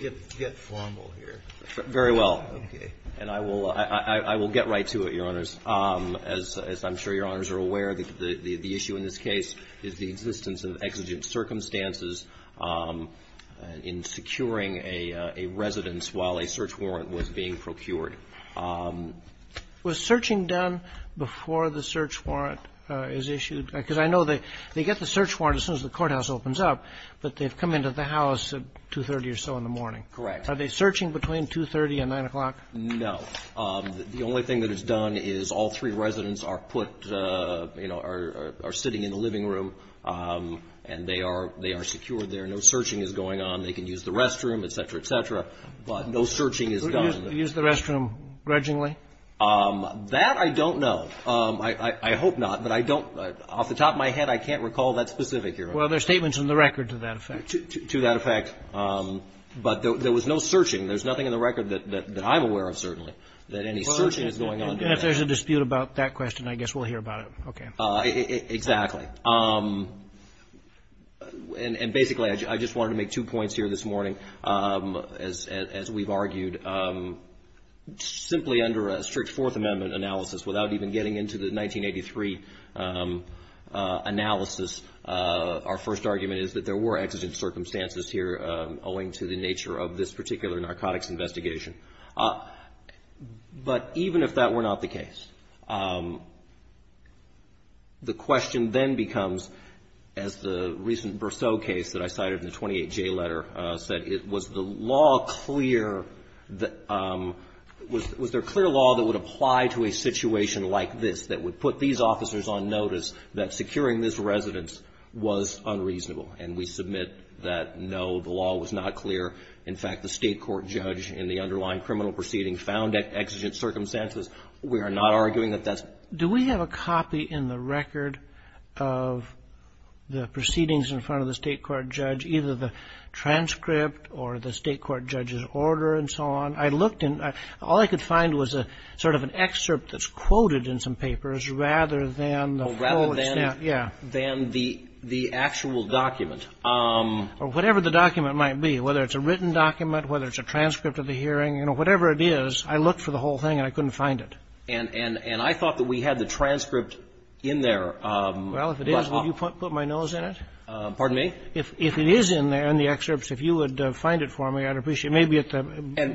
Get formal here. Very well. Okay. And I will get right to it, Your Honors. As I'm sure Your Honors are aware, the issue in this case is the existence of exigent circumstances in securing a residence while a search warrant was being procured. Was searching done before the search warrant is issued? Because I know they get the Correct. Are they searching between 2.30 and 9 o'clock? No. The only thing that is done is all three residents are put, you know, are sitting in the living room, and they are secured there. No searching is going on. They can use the restroom, et cetera, et cetera. But no searching is done. Use the restroom grudgingly? That I don't know. I hope not, but I don't. Off the top of my head, I can't recall that specific, Your Honors. Well, there are statements in the record to that effect. But there was no searching. There's nothing in the record that I'm aware of, certainly, that any searching is going on. And if there's a dispute about that question, I guess we'll hear about it. Okay. Exactly. And basically, I just wanted to make two points here this morning. As we've argued, simply under a strict Fourth Amendment analysis, without even getting into the 1983 analysis, our first argument is that there were exigent circumstances here, owing to the nature of this particular narcotics investigation. But even if that were not the case, the question then becomes, as the recent Berceau case that I cited in the 28J letter said, was the law clear, was there clear law that would apply to a situation like this, that would put these officers on notice that securing this residence was unreasonable? And we submit that, no, the law was not clear. In fact, the state court judge in the underlying criminal proceeding found exigent circumstances. We are not arguing that that's. Do we have a copy in the record of the proceedings in front of the state court judge, either the transcript or the state court judge's order and so on? I looked and all I could find was a sort of an excerpt that's quoted in some papers rather than the full extent. Rather than the actual document. Or whatever the document might be, whether it's a written document, whether it's a transcript of the hearing, you know, whatever it is, I looked for the whole thing and I couldn't find it. And I thought that we had the transcript in there. Well, if it is, would you put my nose in it? Pardon me? If it is in there in the excerpts, if you would find it for me, I'd appreciate it. Maybe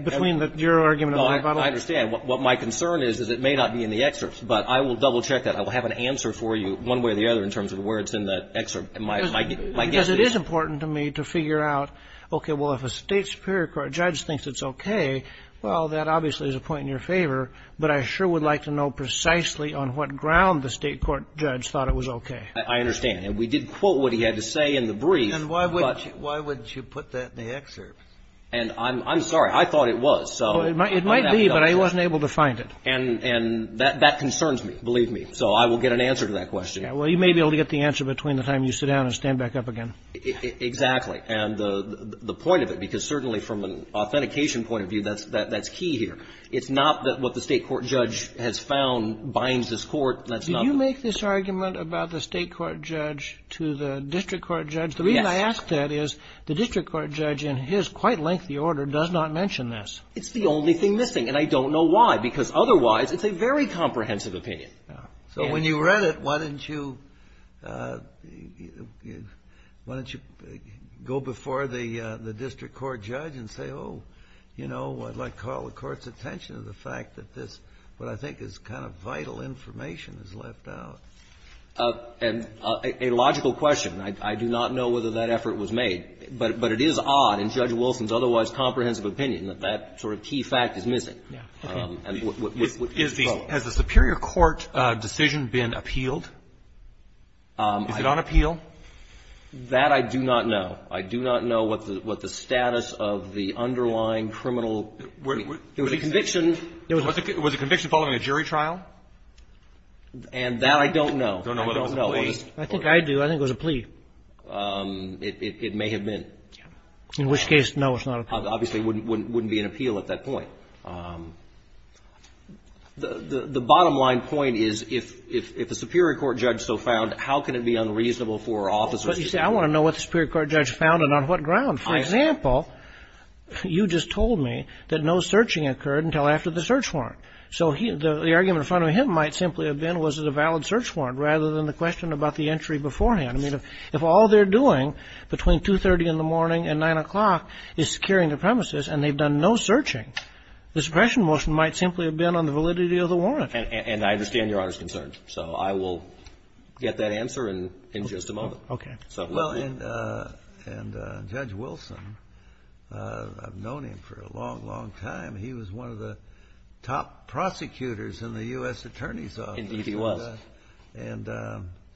between your argument and my argument. No, I understand. What my concern is, is it may not be in the excerpts. But I will double-check that. I will have an answer for you one way or the other in terms of where it's in the excerpt. Because it is important to me to figure out, okay, well, if a state superior court judge thinks it's okay, well, that obviously is a point in your favor. But I sure would like to know precisely on what ground the state court judge thought it was okay. I understand. And we did quote what he had to say in the brief. And why would you put that in the excerpt? And I'm sorry. I thought it was. It might be, but I wasn't able to find it. And that concerns me, believe me. So I will get an answer to that question. Well, you may be able to get the answer between the time you sit down and stand back up again. Exactly. And the point of it, because certainly from an authentication point of view, that's key here. It's not that what the state court judge has found binds this court. Did you make this argument about the state court judge to the district court judge? Yes. The reason I ask that is the district court judge in his quite lengthy order does not mention this. It's the only thing missing. And I don't know why, because otherwise it's a very comprehensive opinion. So when you read it, why didn't you go before the district court judge and say, oh, you know, I'd like to call the court's attention to the fact that this, what I think is kind of vital information is left out. A logical question. I do not know whether that effort was made. But it is odd in Judge Wilson's otherwise comprehensive opinion that that sort of key fact is missing. Okay. Has the superior court decision been appealed? Is it on appeal? That I do not know. I do not know what the status of the underlying criminal. There was a conviction. Was the conviction following a jury trial? And that I don't know. You don't know whether it was a plea? I think I do. I think it was a plea. It may have been. In which case, no, it's not a plea. Obviously, it wouldn't be an appeal at that point. The bottom line point is if the superior court judge so found, how can it be unreasonable for officers to do that? But you say, I want to know what the superior court judge found and on what ground. For example, you just told me that no searching occurred until after the search warrant. So the argument in front of him might simply have been, was it a valid search warrant, rather than the question about the entry beforehand. I mean, if all they're doing between 2.30 in the morning and 9 o'clock is securing the premises and they've done no searching, the suppression motion might simply have been on the validity of the warrant. And I understand Your Honor's concerns. So I will get that answer in just a moment. Okay. Well, and Judge Wilson, I've known him for a long, long time. He was one of the top prosecutors in the U.S. Attorney's Office. Indeed, he was. And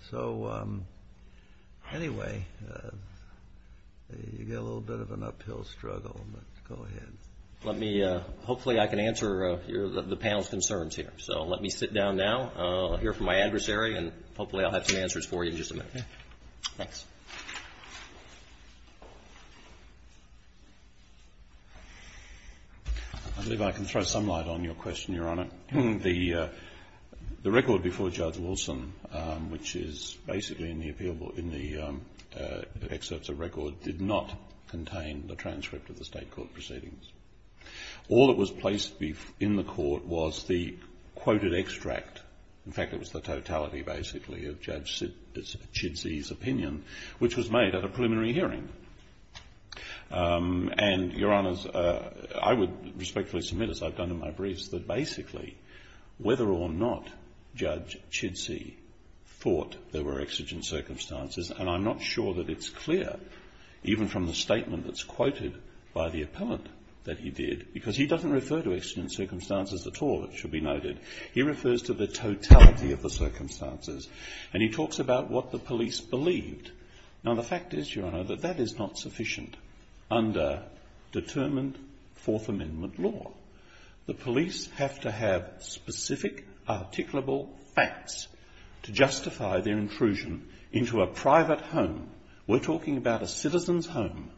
so anyway, you've got a little bit of an uphill struggle, but go ahead. Hopefully I can answer the panel's concerns here. So let me sit down now, hear from my adversary, and hopefully I'll have some answers for you in just a minute. Thanks. I believe I can throw some light on your question, Your Honor. The record before Judge Wilson, which is basically in the excerpts of record, did not contain the transcript of the state court proceedings. All that was placed in the court was the quoted extract. In fact, it was the totality, basically, of Judge Chidsey's opinion, which was made at a preliminary hearing. And, Your Honors, I would respectfully submit, as I've done in my briefs, that basically, whether or not Judge Chidsey thought there were exigent circumstances, and I'm not sure that it's clear, even from the statement that's quoted by the appellant that he did, because he doesn't refer to exigent circumstances at all, it should be noted. He refers to the totality of the circumstances. And he talks about what the police believed. Now the fact is, Your Honor, that that is not sufficient under determined Fourth Amendment law. The police have to have specific, articulable facts to justify their intrusion into a private home. We're talking about a citizen's home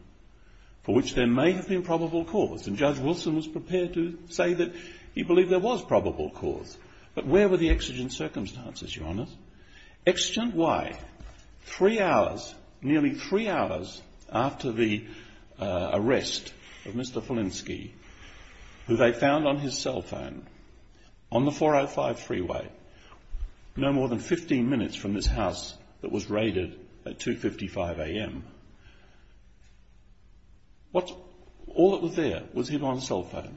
for which there may have been probable cause. And Judge Wilson was prepared to say that he believed there was probable cause. But where were the exigent circumstances, Your Honors? Exigent why? Three hours, nearly three hours after the arrest of Mr. Filinski, who they found on his cell phone on the 405 freeway, no more than 15 minutes from this house that was raided at 2.55 a.m., all that was there was hidden on a cell phone.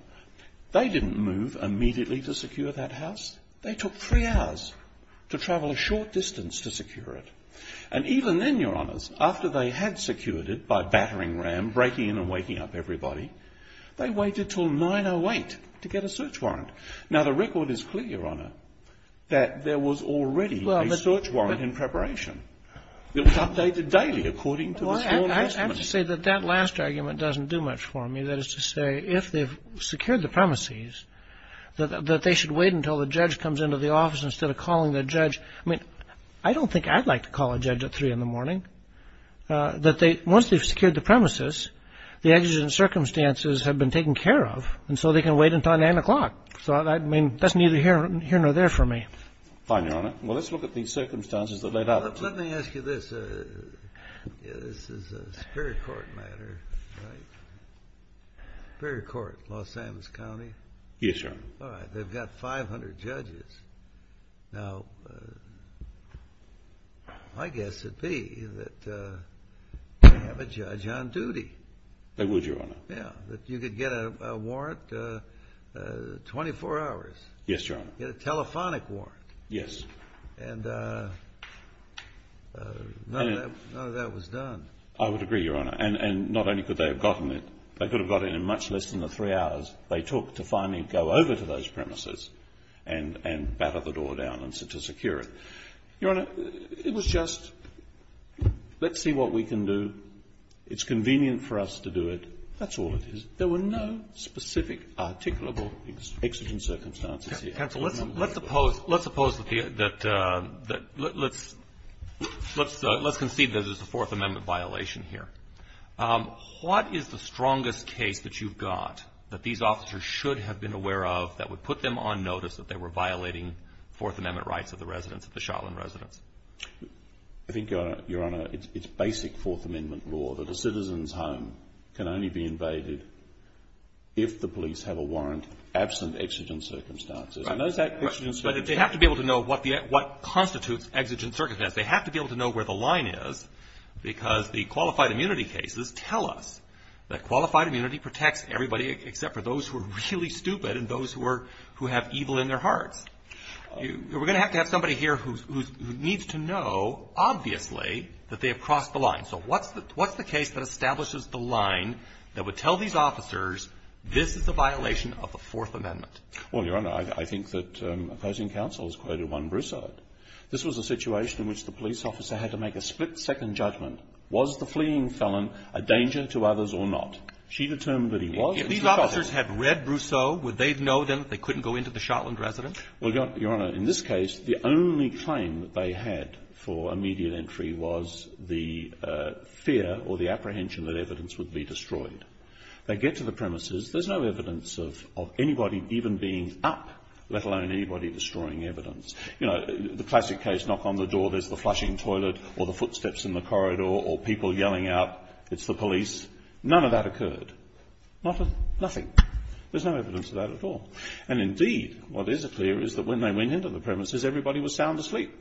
They didn't move immediately to secure that house. They took three hours to travel a short distance to secure it. And even then, Your Honors, after they had secured it by battering ram, breaking in and waking up everybody, they waited until 9.08 to get a search warrant. Now, the record is clear, Your Honor, that there was already a search warrant in preparation. It was updated daily according to the sworn testimony. Well, I have to say that that last argument doesn't do much for me. That is to say, if they've secured the premises, that they should wait until the judge comes into the office instead of calling the judge. I mean, I don't think I'd like to call a judge at 3 in the morning. Once they've secured the premises, the exigent circumstances have been taken care of, and so they can wait until 9 o'clock. So, I mean, that's neither here nor there for me. Fine, Your Honor. Well, let's look at the circumstances that led up to it. Well, let me ask you this. This is a Superior Court matter, right? Superior Court, Los Alamos County? Yes, Your Honor. All right. They've got 500 judges. Now, I guess it'd be that they have a judge on duty. That would, Your Honor. Yeah, that you could get a warrant 24 hours. Yes, Your Honor. Get a telephonic warrant. Yes. And none of that was done. I would agree, Your Honor. And not only could they have gotten it, they could have gotten it in much less than the 3 hours they took to finally go over to those premises and batter the door down to secure it. Your Honor, it was just, let's see what we can do. It's convenient for us to do it. That's all it is. There were no specific articulable exigent circumstances here. Counsel, let's concede that there's a Fourth Amendment violation here. What is the strongest case that you've got that these officers should have been aware of that would put them on notice that they were violating Fourth Amendment rights of the residents, of the Shotland residents? I think, Your Honor, it's basic Fourth Amendment law that a citizen's home can only be invaded if the police have a warrant absent exigent circumstances. But they have to be able to know what constitutes exigent circumstances. They have to be able to know where the line is because the qualified immunity cases tell us that qualified immunity protects everybody except for those who are really stupid and those who have evil in their hearts. We're going to have to have somebody here who needs to know, obviously, that they have crossed the line. So what's the case that establishes the line that would tell these officers this is the violation of the Fourth Amendment? Well, Your Honor, I think that opposing counsel has quoted one Brousseau. This was a situation in which the police officer had to make a split-second judgment. Was the fleeing felon a danger to others or not? She determined that he was. If these officers had read Brousseau, would they know then that they couldn't go into the Shotland residents? Well, Your Honor, in this case, the only claim that they had for immediate entry was the fear or the apprehension that evidence would be destroyed. They get to the premises. There's no evidence of anybody even being up, let alone anybody destroying evidence. You know, the classic case, knock on the door, there's the flushing toilet or the footsteps in the corridor or people yelling out, it's the police. None of that occurred. Nothing. There's no evidence of that at all. And indeed, what is clear is that when they went into the premises, everybody was sound asleep.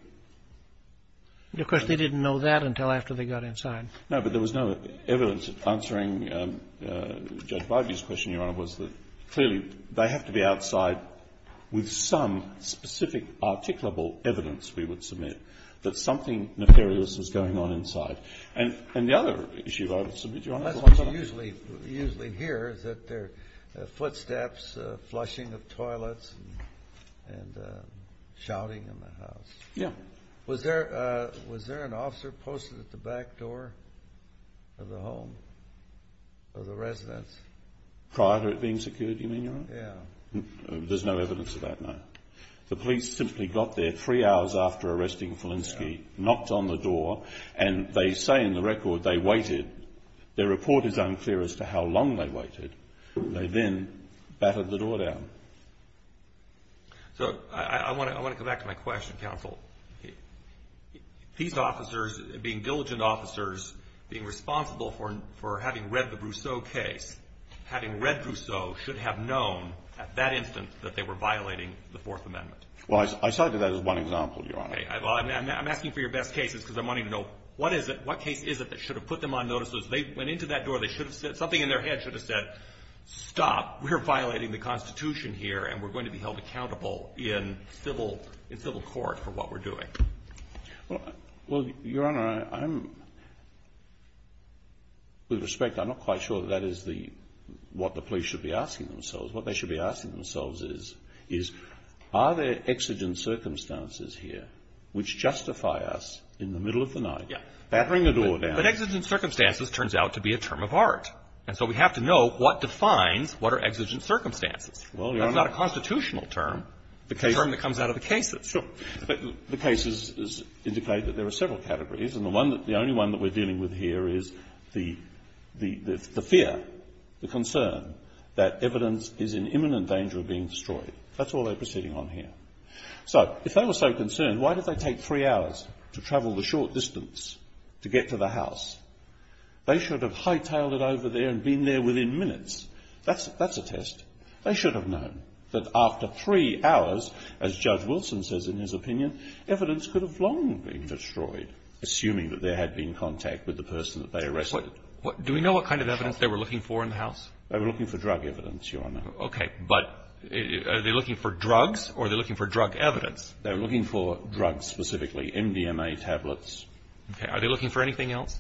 Of course, they didn't know that until after they got inside. No, but there was no evidence. Answering Judge Barbee's question, Your Honor, was that clearly they have to be outside with some specific articulable evidence, we would submit, that something nefarious was going on inside. And the other issue I would submit, Your Honor. Well, that's what you usually hear, is that there are footsteps, flushing of toilets, and shouting in the house. Yeah. Was there an officer posted at the back door of the home, of the residence? Prior to it being secured, you mean, Your Honor? Yeah. There's no evidence of that, no. The police simply got there three hours after arresting Filinski, knocked on the door, and they say in the record they waited. Their report is unclear as to how long they waited. They then battered the door down. So I want to come back to my question, counsel. These officers, being diligent officers, being responsible for having read the Brousseau case, having read Brousseau, should have known at that instant that they were violating the Fourth Amendment. Well, I cited that as one example, Your Honor. Okay. I'm asking for your best cases because I'm wanting to know what is it, what case is it that should have put them on notice. They went into that door. They should have said, something in their head should have said, stop, we're violating the Constitution here and we're going to be held accountable in civil court for what we're doing. Well, Your Honor, with respect, I'm not quite sure that that is what the police should be asking themselves. What they should be asking themselves is, are there exigent circumstances here which justify us in the middle of the night battering a door down? Yes. But exigent circumstances turns out to be a term of art. And so we have to know what defines what are exigent circumstances. Well, Your Honor. That's not a constitutional term. It's a term that comes out of the cases. Sure. But the cases indicate that there are several categories. And the only one that we're dealing with here is the fear, the concern that evidence is in imminent danger of being destroyed. That's all they're proceeding on here. So if they were so concerned, why did they take three hours to travel the short distance to get to the house? They should have hightailed it over there and been there within minutes. That's a test. They should have known that after three hours, as Judge Wilson says in his opinion, evidence could have long been destroyed, assuming that there had been contact with the person that they arrested. Do we know what kind of evidence they were looking for in the house? They were looking for drug evidence, Your Honor. Okay. But are they looking for drugs or are they looking for drug evidence? They were looking for drugs specifically, MDMA tablets. Okay. Are they looking for anything else?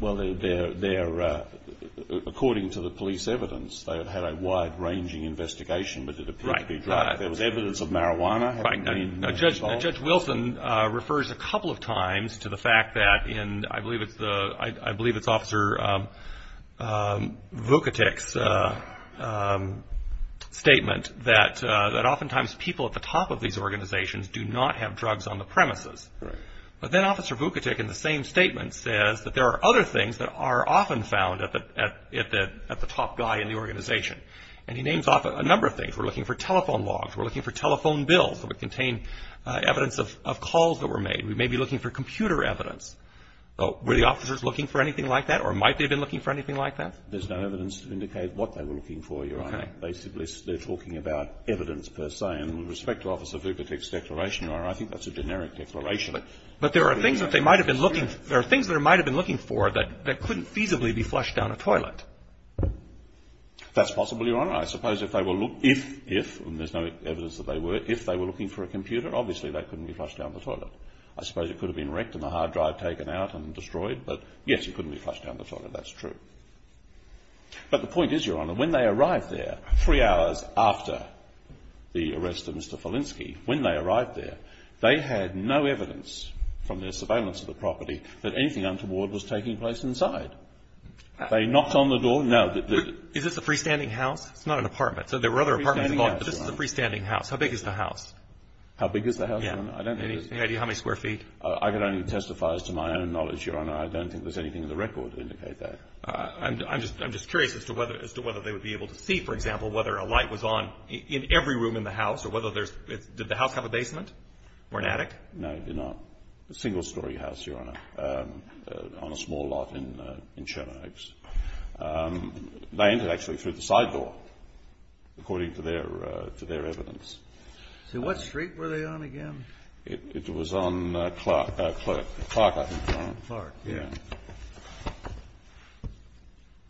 Well, according to the police evidence, they had had a wide-ranging investigation, but it appeared to be drugs. There was evidence of marijuana having been involved. Judge Wilson refers a couple of times to the fact that in, I believe it's Officer Vukitic's statement, that oftentimes people at the top of these organizations do not have drugs on the premises. Right. But then Officer Vukitic in the same statement says that there are other things that are often found at the top guy in the organization, and he names off a number of things. We're looking for telephone logs. We're looking for telephone bills that would contain evidence of calls that were made. We may be looking for computer evidence. Were the officers looking for anything like that or might they have been looking for anything like that? There's no evidence to indicate what they were looking for, Your Honor. Okay. They're talking about evidence per se, and with respect to Officer Vukitic's declaration, Your Honor, I think that's a generic declaration. But there are things that they might have been looking for that couldn't feasibly be flushed down a toilet. That's possible, Your Honor. I suppose if they were looking for a computer, obviously that couldn't be flushed down the toilet. I suppose it could have been wrecked and the hard drive taken out and destroyed, but yes, it couldn't be flushed down the toilet. That's true. But the point is, Your Honor, when they arrived there three hours after the arrest of Mr. Felinski, when they arrived there, they had no evidence from their surveillance of the property that anything untoward was taking place inside. They knocked on the door. No. Is this a freestanding house? It's not an apartment. There were other apartments involved, but this is a freestanding house. How big is the house? How big is the house, Your Honor? I don't know. Any idea how many square feet? I can only testify as to my own knowledge, Your Honor. I don't think there's anything in the record to indicate that. I'm just curious as to whether they would be able to see, for example, whether a light was on in every room in the house or whether there's – did the house have a basement or an attic? No, it did not. A single-story house, Your Honor, on a small lot in Sherman Oaks. They entered, actually, through the side door, according to their evidence. So what street were they on again? It was on Clark, I think, Your Honor. Clark, yeah.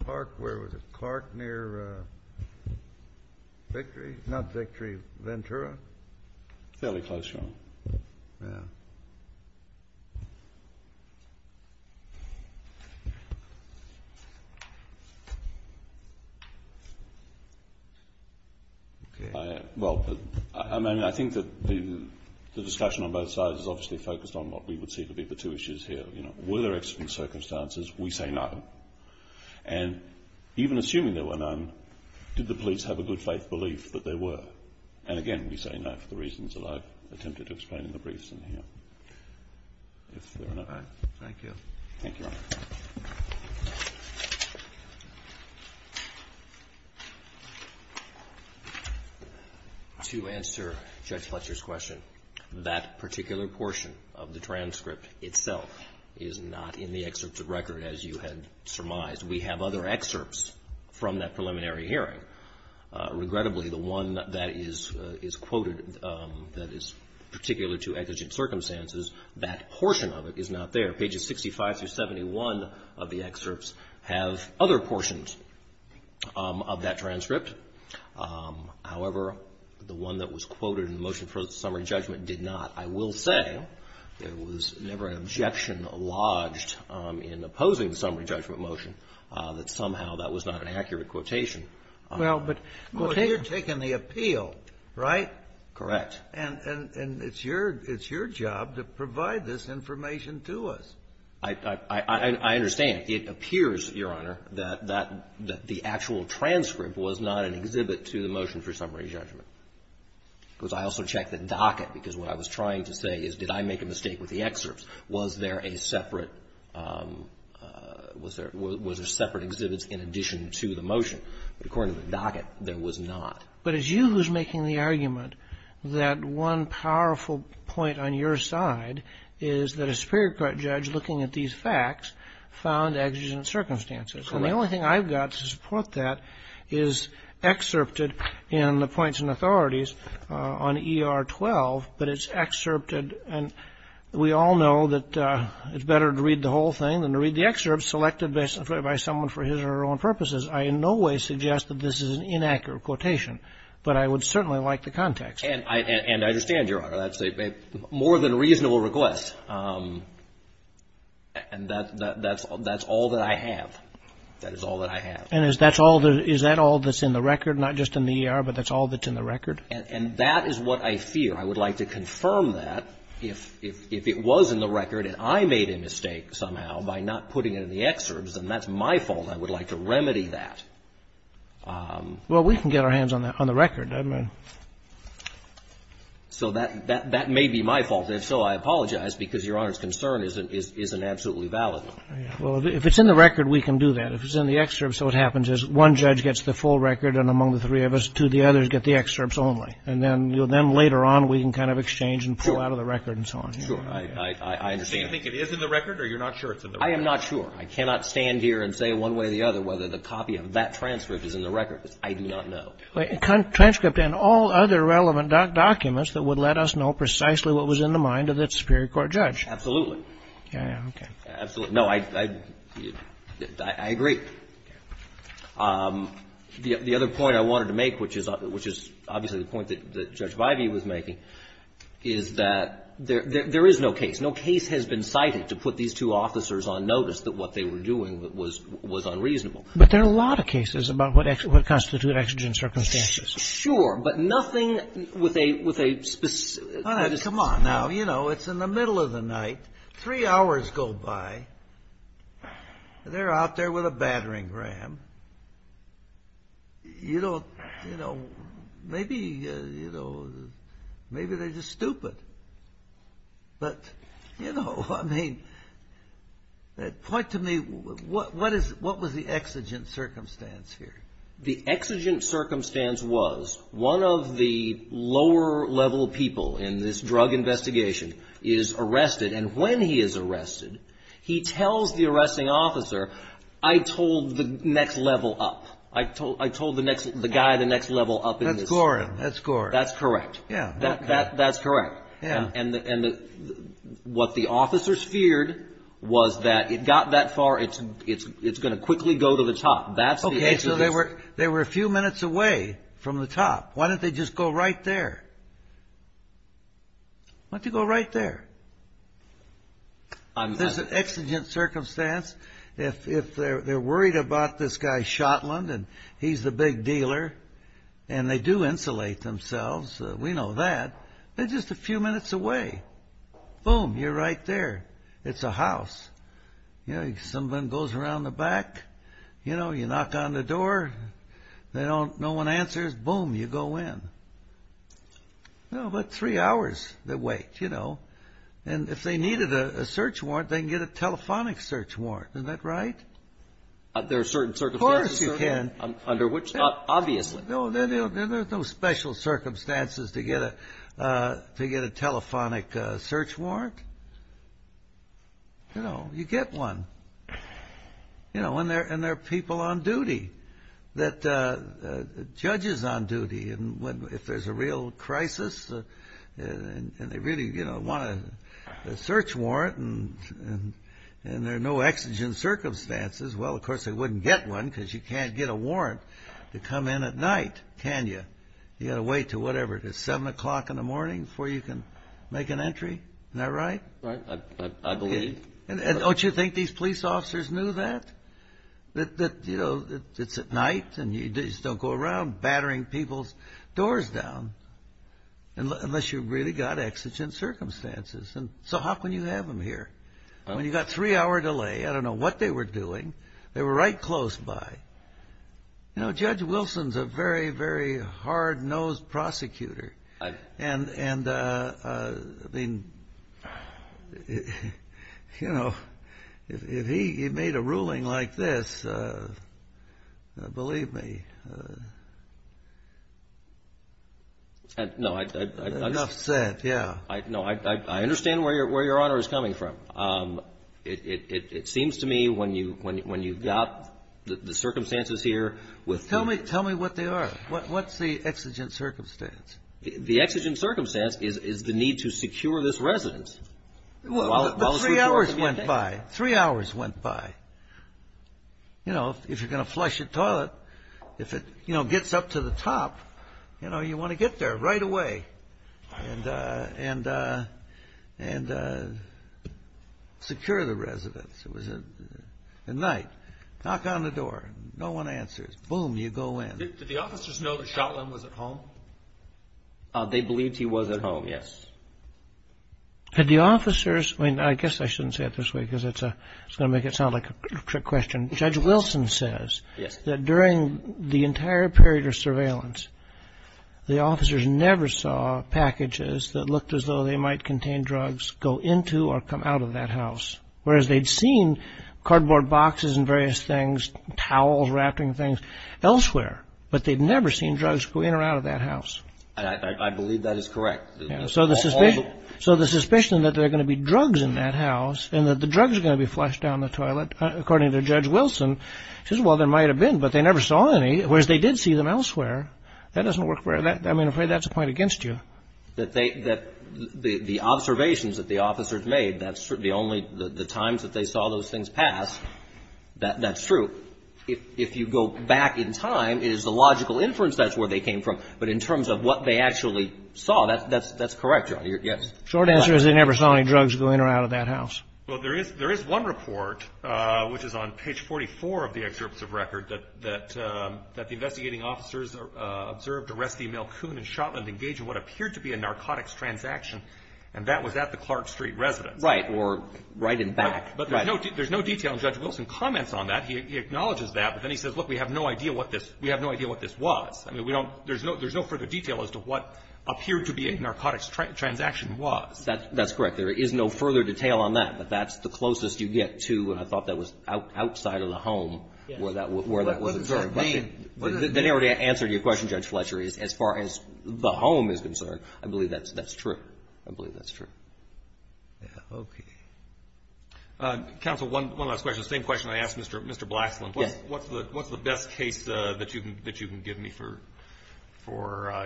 Clark, where was it? Clark near Victory? Not Victory, Ventura? Fairly close, Your Honor. Yeah. Okay. Well, I mean, I think that the discussion on both sides is obviously focused on what we would see to be the two issues here. You know, were there accident circumstances? We say no. And even assuming there were none, did the police have a good-faith belief that there were? And again, we say no for the reasons that I've attempted to explain in the briefs in here. If there are none. Thank you. Thank you, Your Honor. To answer Judge Fletcher's question, that particular portion of the transcript itself is not in the excerpts of record, as you had surmised. We have other excerpts from that preliminary hearing. Regrettably, the one that is quoted that is particular to exigent circumstances, that portion of it is not there. Pages 65 through 71 of the excerpts have other portions of that transcript. However, the one that was quoted in the motion for summary judgment did not. I will say there was never an objection lodged in opposing the summary judgment motion that somehow that was not an accurate quotation. Well, but you're taking the appeal, right? Correct. And it's your job to provide this information to us. I understand. It appears, Your Honor, that the actual transcript was not an exhibit to the motion for summary judgment. Because I also checked the docket, because what I was trying to say is, did I make a mistake with the excerpts? Was there a separate exhibit in addition to the motion? According to the docket, there was not. But it's you who's making the argument that one powerful point on your side is that a superior court judge looking at these facts found exigent circumstances. And the only thing I've got to support that is excerpted in the points and authorities on ER 12, but it's excerpted. And we all know that it's better to read the whole thing than to read the excerpts selected by someone for his or her own purposes. I in no way suggest that this is an inaccurate quotation, but I would certainly like the context. And I understand, Your Honor, that's a more than reasonable request. And that's all that I have. That is all that I have. And is that all that's in the record, not just in the ER, but that's all that's in the record? And that is what I fear. I would like to confirm that. If it was in the record and I made a mistake somehow by not putting it in the excerpts, and that's my fault, I would like to remedy that. Well, we can get our hands on the record. So that may be my fault. If so, I apologize, because Your Honor's concern isn't absolutely valid. Well, if it's in the record, we can do that. If it's in the excerpts, what happens is one judge gets the full record and among the three of us, two of the others get the excerpts only. And then later on, we can kind of exchange and pull out of the record and so on. Sure. I understand. So you think it is in the record or you're not sure it's in the record? I am not sure. I cannot stand here and say one way or the other whether the copy of that transcript is in the record. I do not know. A transcript and all other relevant documents that would let us know precisely what was in the mind of that superior court judge. Absolutely. Okay. Absolutely. No, I agree. The other point I wanted to make, which is obviously the point that Judge Vivey was making, is that there is no case. No case has been cited to put these two officers on notice that what they were doing was unreasonable. But there are a lot of cases about what constitute exigent circumstances. Sure. But nothing with a specific. All right. Come on. Now, you know, it's in the middle of the night. Three hours go by. They're out there with a battering ram. You know, maybe, you know, maybe they're just stupid. But, you know, I mean, point to me, what was the exigent circumstance here? The exigent circumstance was one of the lower level people in this drug investigation is arrested. And when he is arrested, he tells the arresting officer, I told the next level up. I told the guy the next level up in this. That's Gorham. That's Gorham. That's correct. Yeah. That's correct. Yeah. And what the officers feared was that it got that far, it's going to quickly go to the top. That's the exigent. Okay. So they were a few minutes away from the top. Why don't they just go right there? Why don't you go right there? There's an exigent circumstance. If they're worried about this guy, Shotland, and he's the big dealer, and they do insulate themselves, we know that. They're just a few minutes away. Boom, you're right there. It's a house. You know, someone goes around the back. You know, you knock on the door. No one answers. Boom, you go in. You know, about three hours they wait, you know. And if they needed a search warrant, they can get a telephonic search warrant. Isn't that right? There are certain circumstances. Of course you can. Under which? Obviously. No, there's no special circumstances to get a telephonic search warrant. You know, you get one. You know, and there are people on duty, judges on duty. And if there's a real crisis and they really want a search warrant and there are no exigent circumstances, well, of course they wouldn't get one because you can't get a warrant to come in at night, can you? You got to wait until whatever, 7 o'clock in the morning before you can make an entry. Isn't that right? Right. I believe. And don't you think these police officers knew that? That, you know, it's at night and you just don't go around battering people's doors down unless you've really got exigent circumstances. And so how can you have them here? I mean, you got a three-hour delay. I don't know what they were doing. They were right close by. You know, Judge Wilson's a very, very hard-nosed prosecutor. And, I mean, you know, if he made a ruling like this, believe me. No. Enough said. Yeah. No, I understand where Your Honor is coming from. It seems to me when you've got the circumstances here. Tell me what they are. What's the exigent circumstance? The exigent circumstance is the need to secure this residence. Well, three hours went by. Three hours went by. You know, if you're going to flush a toilet, if it, you know, gets up to the top, you know, you want to get there right away and secure the residence. It was at night. Knock on the door. No one answers. Boom, you go in. Did the officers know that Shotland was at home? They believed he was at home, yes. Had the officers, I mean, I guess I shouldn't say it this way because it's going to make it sound like a trick question. Judge Wilson says that during the entire period of surveillance, the officers never saw packages that looked as though they might contain drugs go into or come out of that house. Whereas they'd seen cardboard boxes and various things, towels, wrapping things, elsewhere. But they'd never seen drugs go in or out of that house. I believe that is correct. So the suspicion that there are going to be drugs in that house and that the drugs are going to be flushed down the toilet, according to Judge Wilson, says, well, there might have been, but they never saw any. Whereas they did see them elsewhere. That doesn't work. I mean, I'm afraid that's a point against you. The observations that the officers made, that's true. The times that they saw those things pass, that's true. If you go back in time, it is the logical inference that's where they came from. But in terms of what they actually saw, that's correct, Your Honor. Yes. Short answer is they never saw any drugs go in or out of that house. Well, there is one report, which is on page 44 of the excerpts of record, that the investigating officers observed Oresti, Malkoon, and Shotland engage in what appeared to be a narcotics transaction, and that was at the Clark Street residence. Right. Or right in back. Right. But there's no detail, and Judge Wilson comments on that. He acknowledges that. But then he says, look, we have no idea what this was. I mean, there's no further detail as to what appeared to be a narcotics transaction was. That's correct. There is no further detail on that, but that's the closest you get to, and I thought that was outside of the home where that was concerned. Then he already answered your question, Judge Fletcher, as far as the home is concerned. I believe that's true. I believe that's true. Okay. Counsel, one last question. The same question I asked Mr. Blaxland. Yes. What's the best case that you can give me for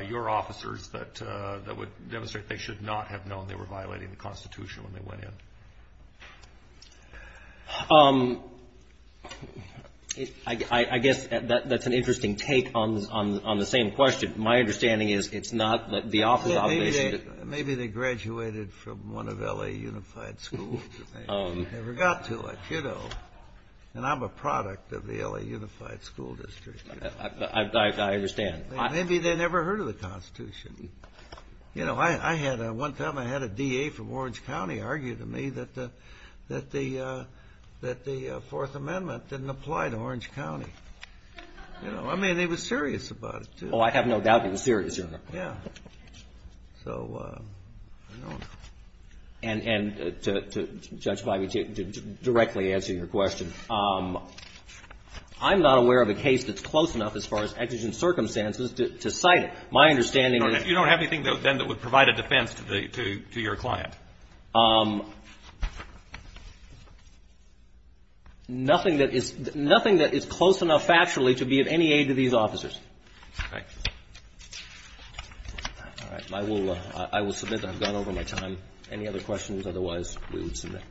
your officers that would demonstrate they should not have known they were violating the I guess that's an interesting take on the same question. My understanding is it's not the officer's obligation. Maybe they graduated from one of L.A. unified schools and never got to it, you know, and I'm a product of the L.A. unified school district. I understand. Maybe they never heard of the Constitution. You know, one time I had a D.A. from Orange County argue to me that the Fourth Amendment didn't apply to Orange County. You know, I mean, he was serious about it, too. Oh, I have no doubt he was serious, Your Honor. Yeah. So, I don't know. And, Judge Feige, to directly answer your question, I'm not aware of a case that's close enough as far as exigent circumstances to cite it. My understanding is You don't have anything, then, that would provide a defense to your client. Nothing that is close enough factually to be of any aid to these officers. All right. I will submit that I've gone over my time. Any other questions? Otherwise, we would submit.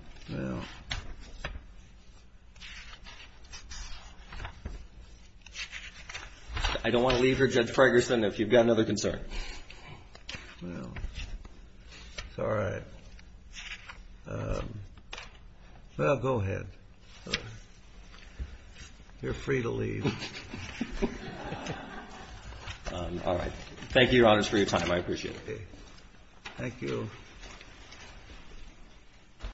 I don't want to leave here, Judge Fragerson. If you've got another concern. Well, it's all right. Well, go ahead. You're free to leave. All right. Thank you, Your Honors, for your time. I appreciate it. Thank you.